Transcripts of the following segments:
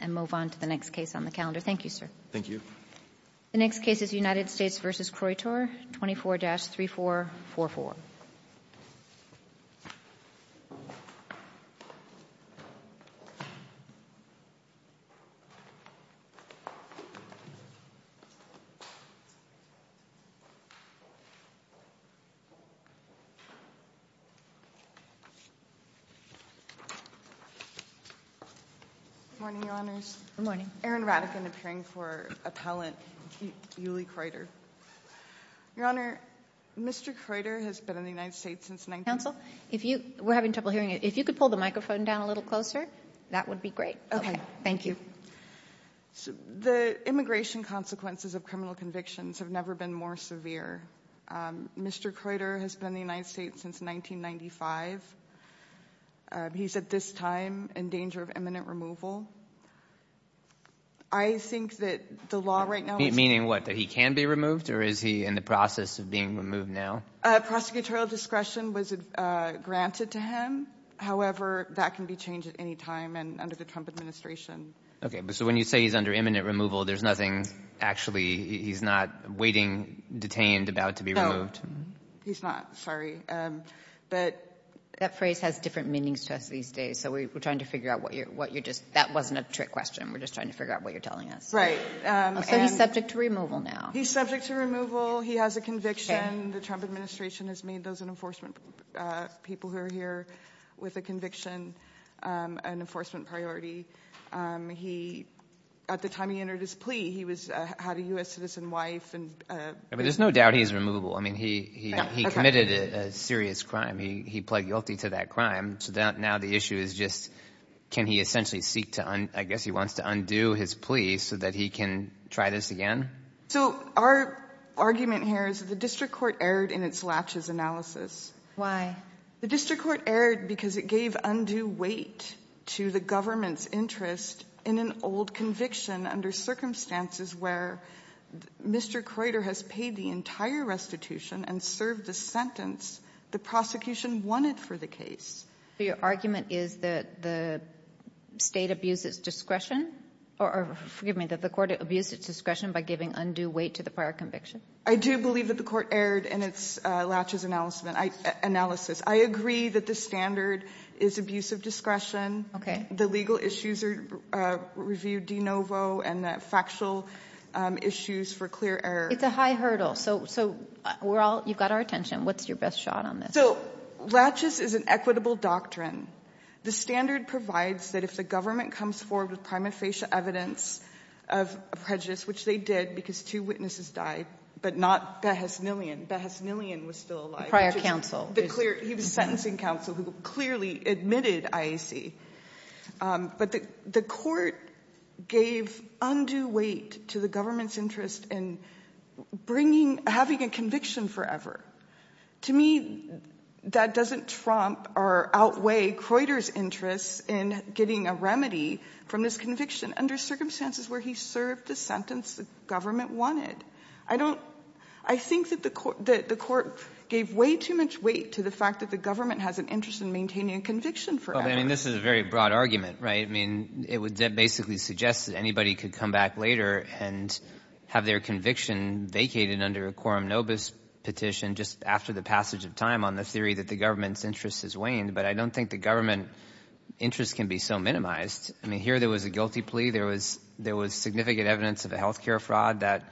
and move on to the next case on the calendar. Thank you, sir. The next case is United States v. Kroytor, 24-3444. Good morning, Your Honors. Good morning. I'm Karen Radican, appearing for Appellant Uly Kroytor. Your Honor, Mr. Kroytor has been in the United States since 1995. Kagan. Counsel, if you — we're having trouble hearing you. If you could pull the microphone down a little closer, that would be great. Kroytor. Okay. Kagan. Thank you. Kroytor. The immigration consequences of criminal convictions have never been more severe. Mr. Kroytor has been in the United States since 1995. He's at this time in danger of imminent removal. I think that the law right now is — Kagan. Meaning what? That he can be removed, or is he in the process of being removed now? Kroytor. Prosecutorial discretion was granted to him. However, that can be changed at any time and under the Trump administration. Kagan. Okay. But so when you say he's under imminent removal, there's nothing actually — he's not waiting, detained, about to be removed? Kroytor. No. He's not. Sorry. But that phrase has different meanings to us these days. So we're trying to figure out what you're — that wasn't a trick question. We're just trying to figure out what you're telling us. Kagan. Right. Kroytor. So he's subject to removal now? Kagan. He's subject to removal. He has a conviction. The Trump administration has made those in enforcement — people who are here with a conviction an enforcement priority. He — at the time he entered his plea, he was — had a U.S. citizen wife. Kroytor. But there's no doubt he's removable. I mean, he committed a serious crime. He pled guilty to that crime. So now the issue is just, can he essentially seek to — I guess he wants to undo his plea so that he can try this again? Kagan. So our argument here is the district court erred in its latches analysis. Kroytor. Why? Kagan. The district court erred because it gave undue weight to the government's interest in an old conviction under circumstances where Mr. Kroytor has paid the entire restitution and served the sentence the prosecution wanted for the case. Kagan. So your argument is that the State abused its discretion? Or forgive me, that the Court abused its discretion by giving undue weight to the prior conviction? Kagan. I do believe that the Court erred in its latches analysis. I agree that the standard is abuse of discretion. Kagan. Okay. Kagan. The legal issues are reviewed de novo, and the factual issues for clear — It's a high hurdle. So we're all — you've got our attention. What's your best shot on this? Kagan. So latches is an equitable doctrine. The standard provides that if the government comes forward with prima facie evidence of a prejudice, which they did because two witnesses died, but not Beheznelian. Beheznelian was still alive. Prior counsel. Kagan. He was sentencing counsel who clearly admitted IAC. But the Court gave undue weight to the government's interest in bringing — having a conviction forever. To me, that doesn't trump or outweigh Creuter's interest in getting a remedy from this conviction under circumstances where he served the sentence the government wanted. I don't — I think that the Court gave way too much weight to the fact that the government has an interest in maintaining a conviction forever. Well, I mean, this is a very broad argument, right? I mean, it would basically suggest that anybody could come back later and have their conviction vacated under a quorum nobis petition just after the passage of time on the theory that the government's interest has waned. But I don't think the government interest can be so minimized. I mean, here there was a guilty plea. There was significant evidence of a health care fraud that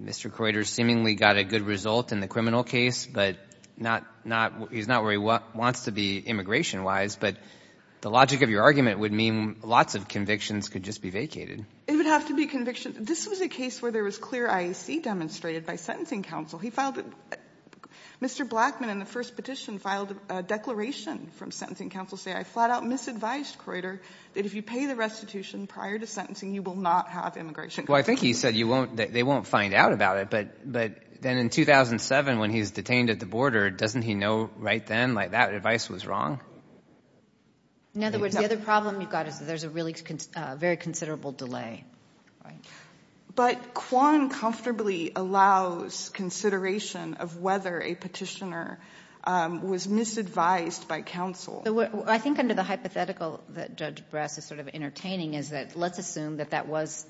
Mr. Creuter seemingly got a good result in the criminal case, but not — he's not where he wants to be immigration-wise. But the logic of your argument would mean lots of convictions could just be vacated. It would have to be conviction — this was a case where there was clear IEC demonstrated by sentencing counsel. He filed — Mr. Blackman, in the first petition, filed a declaration from sentencing counsel saying, I flat-out misadvised Creuter that if you pay the restitution prior to sentencing, you will not have immigration — Well, I think he said you won't — that they won't find out about it. But then in 2007, when he's detained at the border, doesn't he know right then that advice was wrong? In other words, the other problem you've got is that there's a really very considerable delay. But Kwan comfortably allows consideration of whether a petitioner was misadvised by counsel. I think under the hypothetical that Judge Brass is sort of entertaining is that let's assume that that was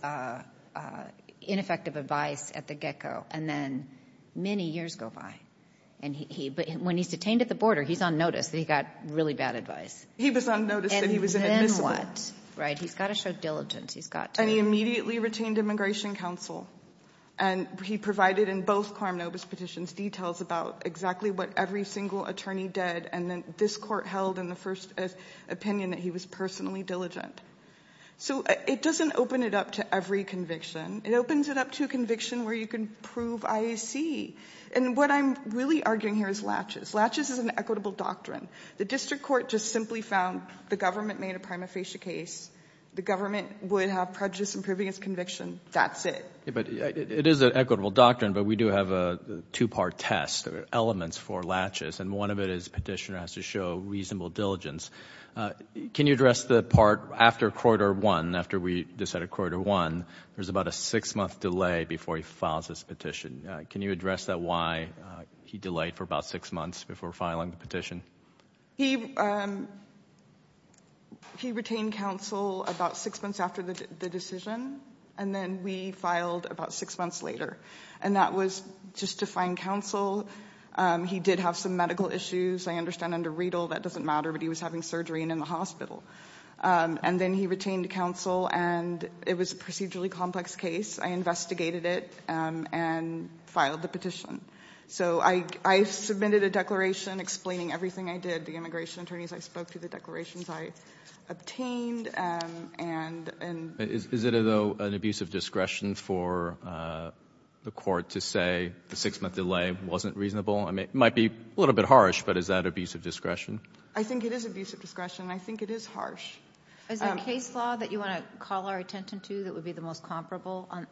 ineffective advice at the get-go, and then many years go by. But when he's detained at the border, he's on notice that he got really bad advice. He was on notice that he was inadmissible. And then what? Right? He's got to show diligence. He's got to — And he immediately retained immigration counsel. And he provided in both Karmanovas petitions details about exactly what every single attorney did, and then this Court held in the first opinion that he was personally diligent. So it doesn't open it up to every conviction. It opens it up to a conviction where you can prove IEC. And what I'm really arguing here is Latches. Latches is an equitable doctrine. The district court just simply found the government made a prima facie case. The government would have prejudice in proving its conviction. That's it. But it is an equitable doctrine, but we do have a two-part test, elements for Latches. And one of it is the petitioner has to show reasonable diligence. Can you address the part after Croyder won, after we decided Croyder won, there was about a six-month delay before he files his petition. Can you address that why he delayed for about six months before filing the petition? He retained counsel about six months after the decision, and then we filed about six months later. And that was just to find counsel. He did have some medical issues, I understand, under Riedel. That doesn't matter, but he was having surgery and in the hospital. And then he retained counsel, and it was a procedurally complex case. I investigated it and filed the petition. So I submitted a declaration explaining everything I did, the immigration attorneys I spoke to, the declarations I obtained. And is it, though, an abusive discretion for the court to say the six-month delay wasn't reasonable? I mean, it might be a little bit harsh, but is that abusive discretion? I think it is abusive discretion. I think it is harsh. Is there a case law that you want to call our attention to that would be the most calibration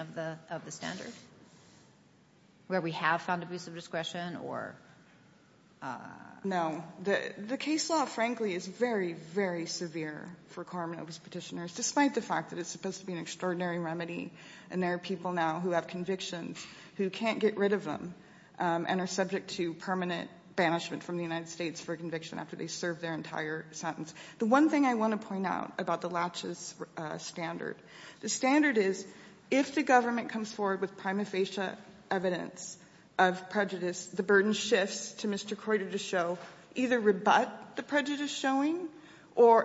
of the standard, where we have found abusive discretion? No. The case law, frankly, is very, very severe for Karmanov's petitioners, despite the fact that it's supposed to be an extraordinary remedy, and there are people now who have convictions who can't get rid of them and are subject to permanent banishment from the United States for a conviction after they served their entire sentence. The one thing I want to point out about the Latches standard, the standard is, if the government comes forward with prima facie evidence of prejudice, the burden shifts to Mr. Croyder to show, either rebut the prejudice showing or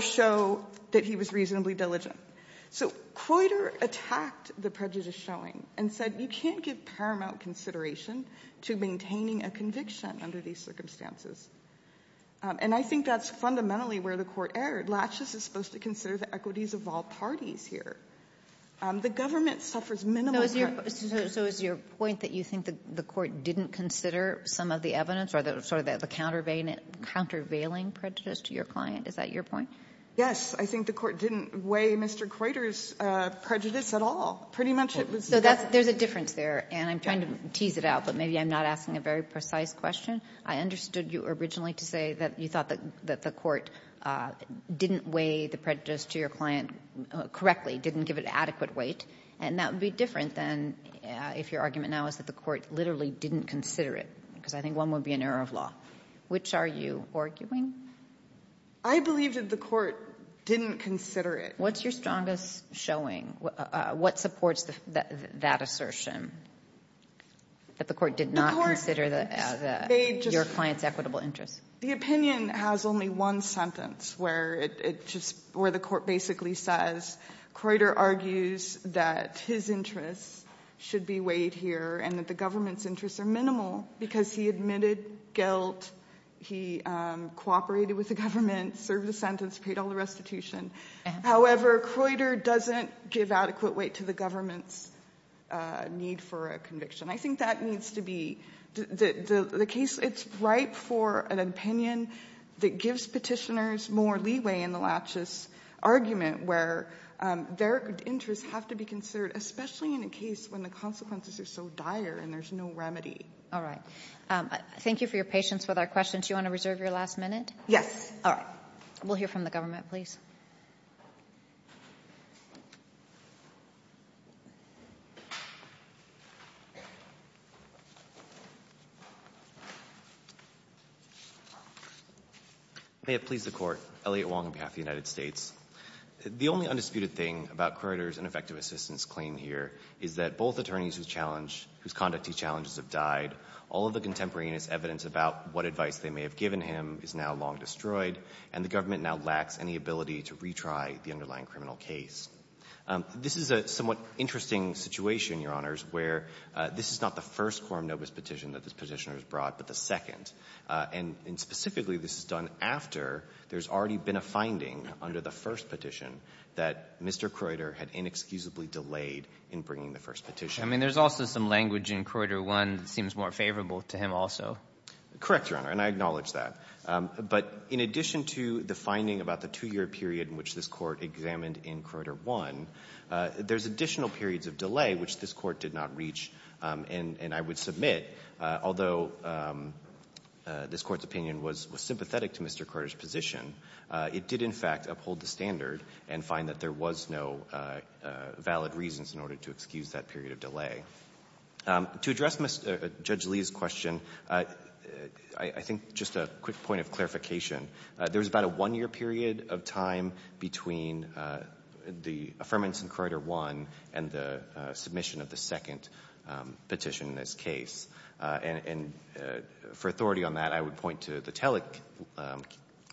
show that he was reasonably diligent. So Croyder attacked the prejudice showing and said, you can't give paramount consideration to maintaining a conviction under these circumstances. And I think that's fundamentally where the court erred. Latches is supposed to consider the equities of all parties here. The government suffers minimal ---- So is your point that you think the court didn't consider some of the evidence or sort of the countervailing prejudice to your client? Is that your point? Yes. I think the court didn't weigh Mr. Croyder's prejudice at all. Pretty much it was the ---- So that's the difference there, and I'm trying to tease it out, but maybe I'm not asking a very precise question. I understood you originally to say that you thought that the court didn't weigh the prejudice to your client correctly, didn't give it adequate weight, and that would be different than if your argument now is that the court literally didn't consider it, because I think one would be an error of law. Which are you arguing? I believe that the court didn't consider it. What's your strongest showing? What supports that assertion, that the court did not consider the ---- Your client's equitable interests. The opinion has only one sentence where it just ---- where the court basically says Croyder argues that his interests should be weighed here and that the government's interests are minimal because he admitted guilt, he cooperated with the government, served the sentence, paid all the restitution. However, Croyder doesn't give adequate weight to the government's need for a conviction. I think that needs to be the case. It's ripe for an opinion that gives petitioners more leeway in the laches argument where their interests have to be considered, especially in a case when the consequences are so dire and there's no remedy. All right. Thank you for your patience with our questions. Do you want to reserve your last minute? Yes. All right. We'll hear from the government, please. May it please the Court. Elliot Wong on behalf of the United States. The only undisputed thing about Croyder's ineffective assistance claim here is that both attorneys whose challenge ---- whose conduct he challenges have died. All of the contemporaneous evidence about what advice they may have given him is now long destroyed, and the government now lacks any ability to retry the underlying criminal case. This is a somewhat interesting situation, Your Honors, where this is not the first quorum nobis petition that this petitioner has brought, but the second. And specifically, this is done after there's already been a finding under the first petition that Mr. Croyder had inexcusably delayed in bringing the first petition. I mean, there's also some language in Croyder 1 that seems more favorable to him also. Correct, Your Honor, and I acknowledge that. But in addition to the finding about the two-year period in which this Court examined in Croyder 1, there's additional periods of delay which this Court did not reach. And I would submit, although this Court's opinion was sympathetic to Mr. Croyder's position, it did, in fact, uphold the standard and find that there was no valid reasons in order to excuse that period of delay. To address Judge Lee's question, I think just a quick point of clarification. There's about a one-year period of time between the affirmance in Croyder 1 and the submission of the second petition in this case. And for authority on that, I would point to the Telleck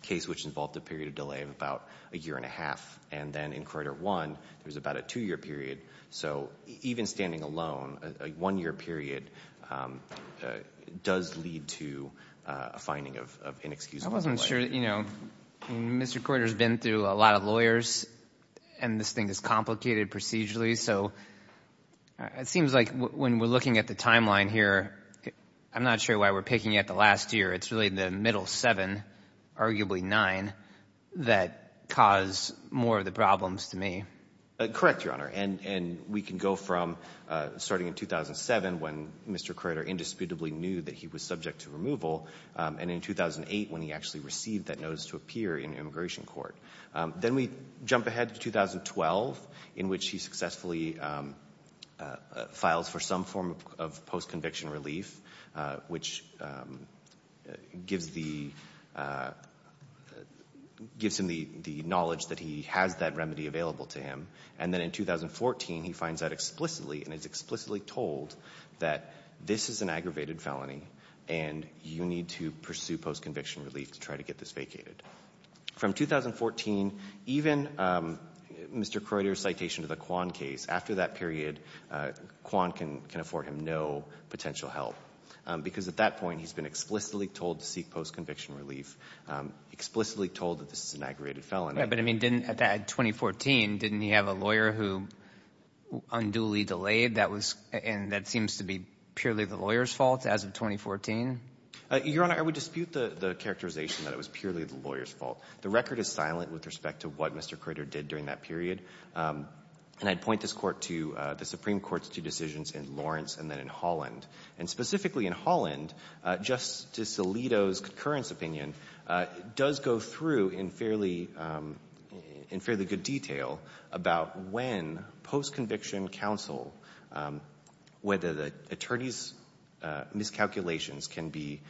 case, which involved a period of delay of about a year and a half. And then in Croyder 1, there was about a two-year period. So even standing alone, a one-year period does lead to a finding of inexcusable delay. I wasn't sure, you know, Mr. Croyder's been through a lot of lawyers, and this thing is complicated procedurally. So it seems like when we're looking at the timeline here, I'm not sure why we're picking at the last year. It's really the middle seven, arguably nine, that cause more of the problems to me. Correct, Your Honor. And we can go from starting in 2007 when Mr. Croyder indisputably knew that he was subject to removal, and in 2008 when he actually received that notice to appear in immigration court. Then we jump ahead to 2012, in which he successfully files for some form of post-conviction relief, which gives him the knowledge that he has that remedy available to him. And then in 2014, he finds out explicitly and is explicitly told that this is an aggravated felony and you need to pursue post-conviction relief to try to get this vacated. From 2014, even Mr. Croyder's citation of the Kwan case, after that period, Kwan can afford him no potential help, because at that point he's been explicitly told to seek post-conviction relief, explicitly told that this is an aggravated felony. Yeah, but I mean, didn't, at 2014, didn't he have a lawyer who unduly delayed? That was — and that seems to be purely the lawyer's fault as of 2014? Your Honor, I would dispute the characterization that it was purely the lawyer's The record is silent with respect to what Mr. Croyder did during that period. And I'd point this Court to the Supreme Court's two decisions in Lawrence and then in Holland. And specifically in Holland, Justice Alito's concurrence opinion does go through in fairly good detail about when post-conviction counsel, whether the attorney's miscalculations can be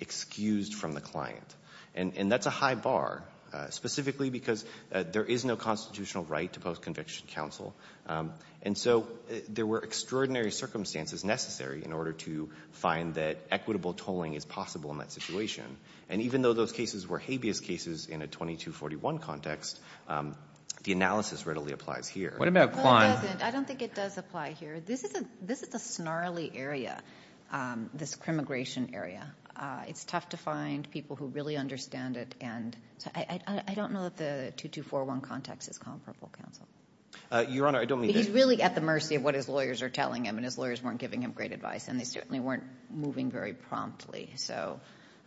excused from the client. And that's a high bar, specifically because there is no constitutional right to post-conviction counsel. And so there were extraordinary circumstances necessary in order to find that equitable tolling is possible in that situation. And even though those cases were habeas cases in a 2241 context, the analysis readily applies here. What about Kwan? Well, it doesn't. I don't think it does apply here. This is a snarly area, this crimmigration area. It's tough to find people who really understand it. And I don't know that the 2241 context is comparable counsel. Your Honor, I don't mean to — He's really at the mercy of what his lawyers are telling him. And his lawyers weren't giving him great advice. And they certainly weren't moving very promptly. So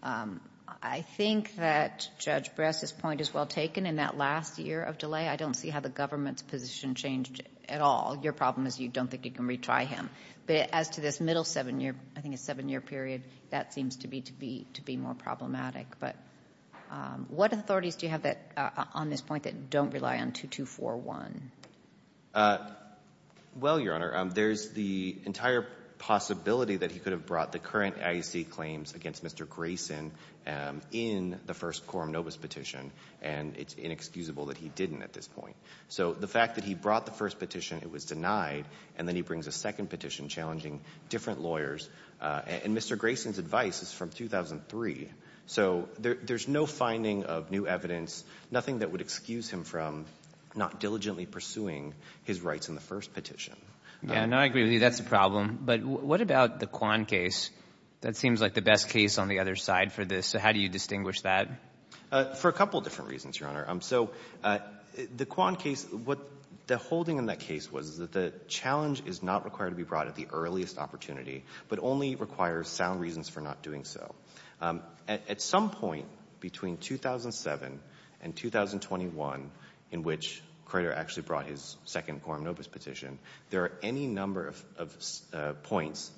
I think that Judge Bress's point is well taken. In that last year of delay, I don't see how the government's position changed at all. Your problem is you don't think you can retry him. But as to this middle seven-year — I think it's seven-year period, that seems to be to be more problematic. But what authorities do you have that — on this point that don't rely on 2241? Well, Your Honor, there's the entire possibility that he could have brought the current IEC claims against Mr. Grayson in the first quorum nobis petition. And it's inexcusable that he didn't at this point. So the fact that he brought the first petition, it was denied. And then he brings a second petition challenging different lawyers. And Mr. Grayson's advice is from 2003. So there's no finding of new evidence, nothing that would excuse him from not diligently pursuing his rights in the first petition. Yeah, no, I agree with you. That's the problem. But what about the Kwan case? That seems like the best case on the other side for this. So how do you distinguish that? For a couple of different reasons, Your Honor. So the Kwan case — what the holding in that case was, is that the challenge is not required to be brought at the earliest opportunity, but only requires sound reasons for not doing so. At some point between 2007 and 2021, in which Crater actually brought his second quorum nobis petition, there are any number of points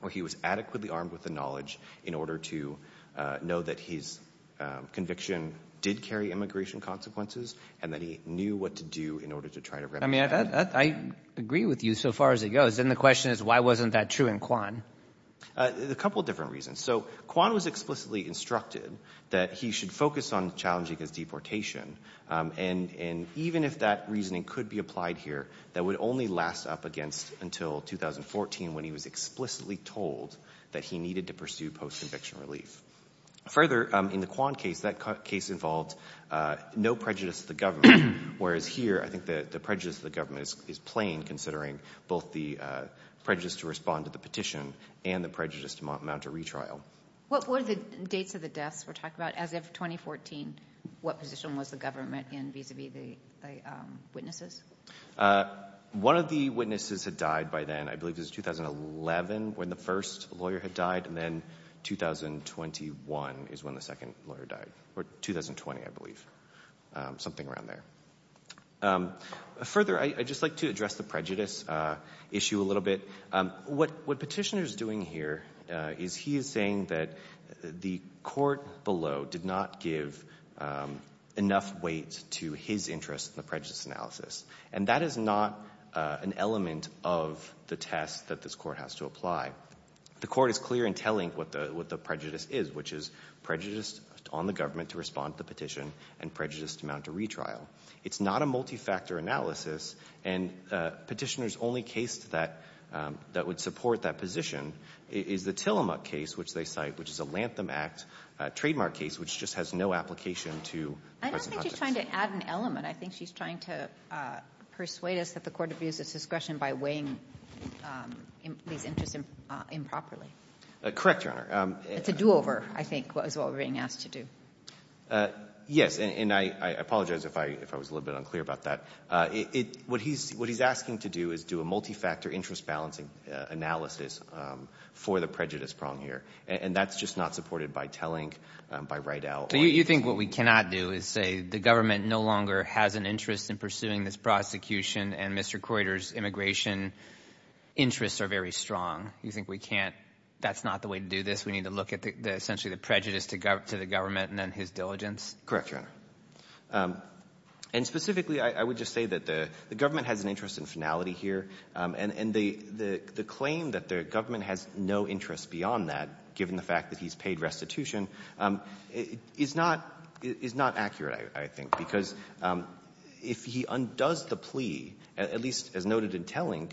where he was adequately armed with the knowledge in order to know that his conviction did carry immigration consequences and that he knew what to do in order to try to remedy that. I mean, I agree with you so far as it goes. Then the question is, why wasn't that true in Kwan? A couple of different reasons. So Kwan was explicitly instructed that he should focus on challenging his deportation. And even if that reasoning could be applied here, that would only last up against until 2014 when he was explicitly told that he needed to pursue post-conviction relief. Further, in the Kwan case, that case involved no prejudice to the government, whereas here I think the prejudice to the government is plain considering both the prejudice to respond to the petition and the prejudice to mount a retrial. What were the dates of the deaths we're talking about? As of 2014, what position was the government in vis-a-vis the witnesses? One of the witnesses had died by then. I believe it was 2011 when the first lawyer had died, and then 2021 is when the second lawyer died. Or 2020, I believe. Something around there. Further, I'd just like to address the prejudice issue a little bit. What Petitioner is doing here is he is saying that the court below did not give enough weight to his interest in the prejudice analysis, and that is not an element of the test that this court has to apply. The court is clear in telling what the prejudice is, which is prejudice on the government to respond to the petition and prejudice to mount a retrial. It's not a multi-factor analysis, and Petitioner's only case that would support that position is the Tillamook case, which they cite, which is a Lantham Act trademark case which just has no application to prejudice. I don't think she's trying to add an element. I think she's trying to persuade us that the court abused its discretion by weighing these interests improperly. Correct, Your Honor. It's a do-over, I think, is what we're being asked to do. Yes, and I apologize if I was a little bit unclear about that. What he's asking to do is do a multi-factor interest-balancing analysis for the prejudice prong here, and that's just not supported by telling, by right out. So you think what we cannot do is say the government no longer has an interest in pursuing this prosecution and Mr. Croyder's immigration interests are very strong. You think we can't, that's not the way to do this. We need to look at essentially the prejudice to the government and then his diligence? Correct, Your Honor. And specifically, I would just say that the government has an interest in finality here, and the claim that the government has no interest beyond that, given the fact that he's paid restitution, is not accurate, I think, because if he undoes the plea, at least as noted in Tellink,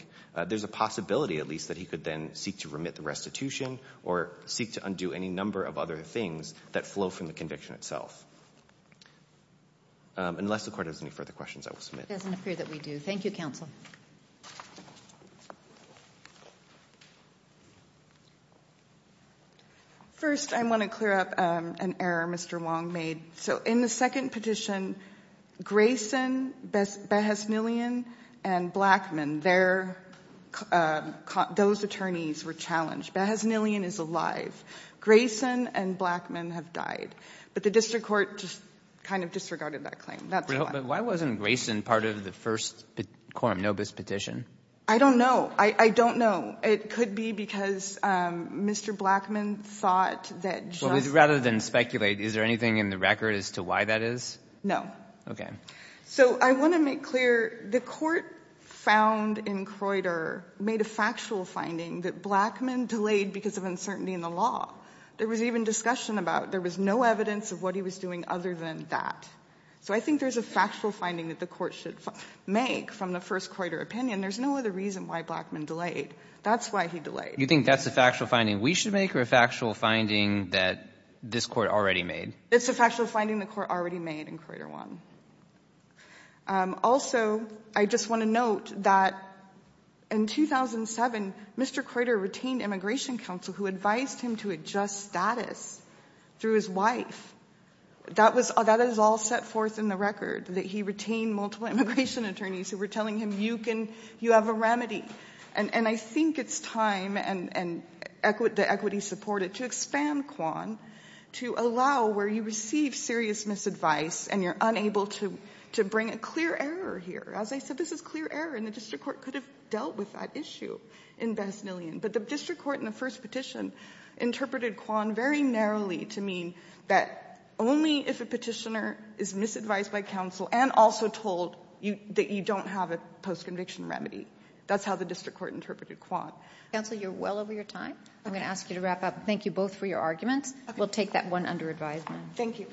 there's a possibility at least that he could then seek to remit the restitution or seek to undo any number of other things that flow from the conviction itself. Unless the Court has any further questions, I will submit. It doesn't appear that we do. Thank you, Counsel. First, I want to clear up an error Mr. Wong made. So in the second petition, Grayson, Behaznilian, and Blackman, those attorneys were challenged. Behaznilian is alive. Grayson and Blackman have died. But the district court just kind of disregarded that claim. That's all I have. But why wasn't Grayson part of the first quorum nobis petition? I don't know. I don't know. It could be because Mr. Blackman thought that just as a matter of fact. Do you have a record as to why that is? No. Okay. So I want to make clear, the Court found in Croyder made a factual finding that Blackman delayed because of uncertainty in the law. There was even discussion about there was no evidence of what he was doing other than that. So I think there's a factual finding that the Court should make from the first Croyder opinion. There's no other reason why Blackman delayed. That's why he delayed. You think that's a factual finding we should make or a factual finding that this Court already made? It's a factual finding the Court already made in Croyder 1. Also, I just want to note that in 2007, Mr. Croyder retained immigration counsel who advised him to adjust status through his wife. That is all set forth in the record, that he retained multiple immigration attorneys who were telling him, you have a remedy. And I think it's time and the equity supported to expand Kwan to allow where you receive serious misadvice and you're unable to bring a clear error here. As I said, this is clear error and the district court could have dealt with that issue in Besnillian. But the district court in the first petition interpreted Kwan very narrowly to mean that only if a petitioner is misadvised by counsel and also told that you don't have a post-conviction remedy. That's how the district court interpreted Kwan. Counsel, you're well over your time. I'm going to ask you to wrap up. Thank you both for your arguments. We'll take that one under advisement. Thank you.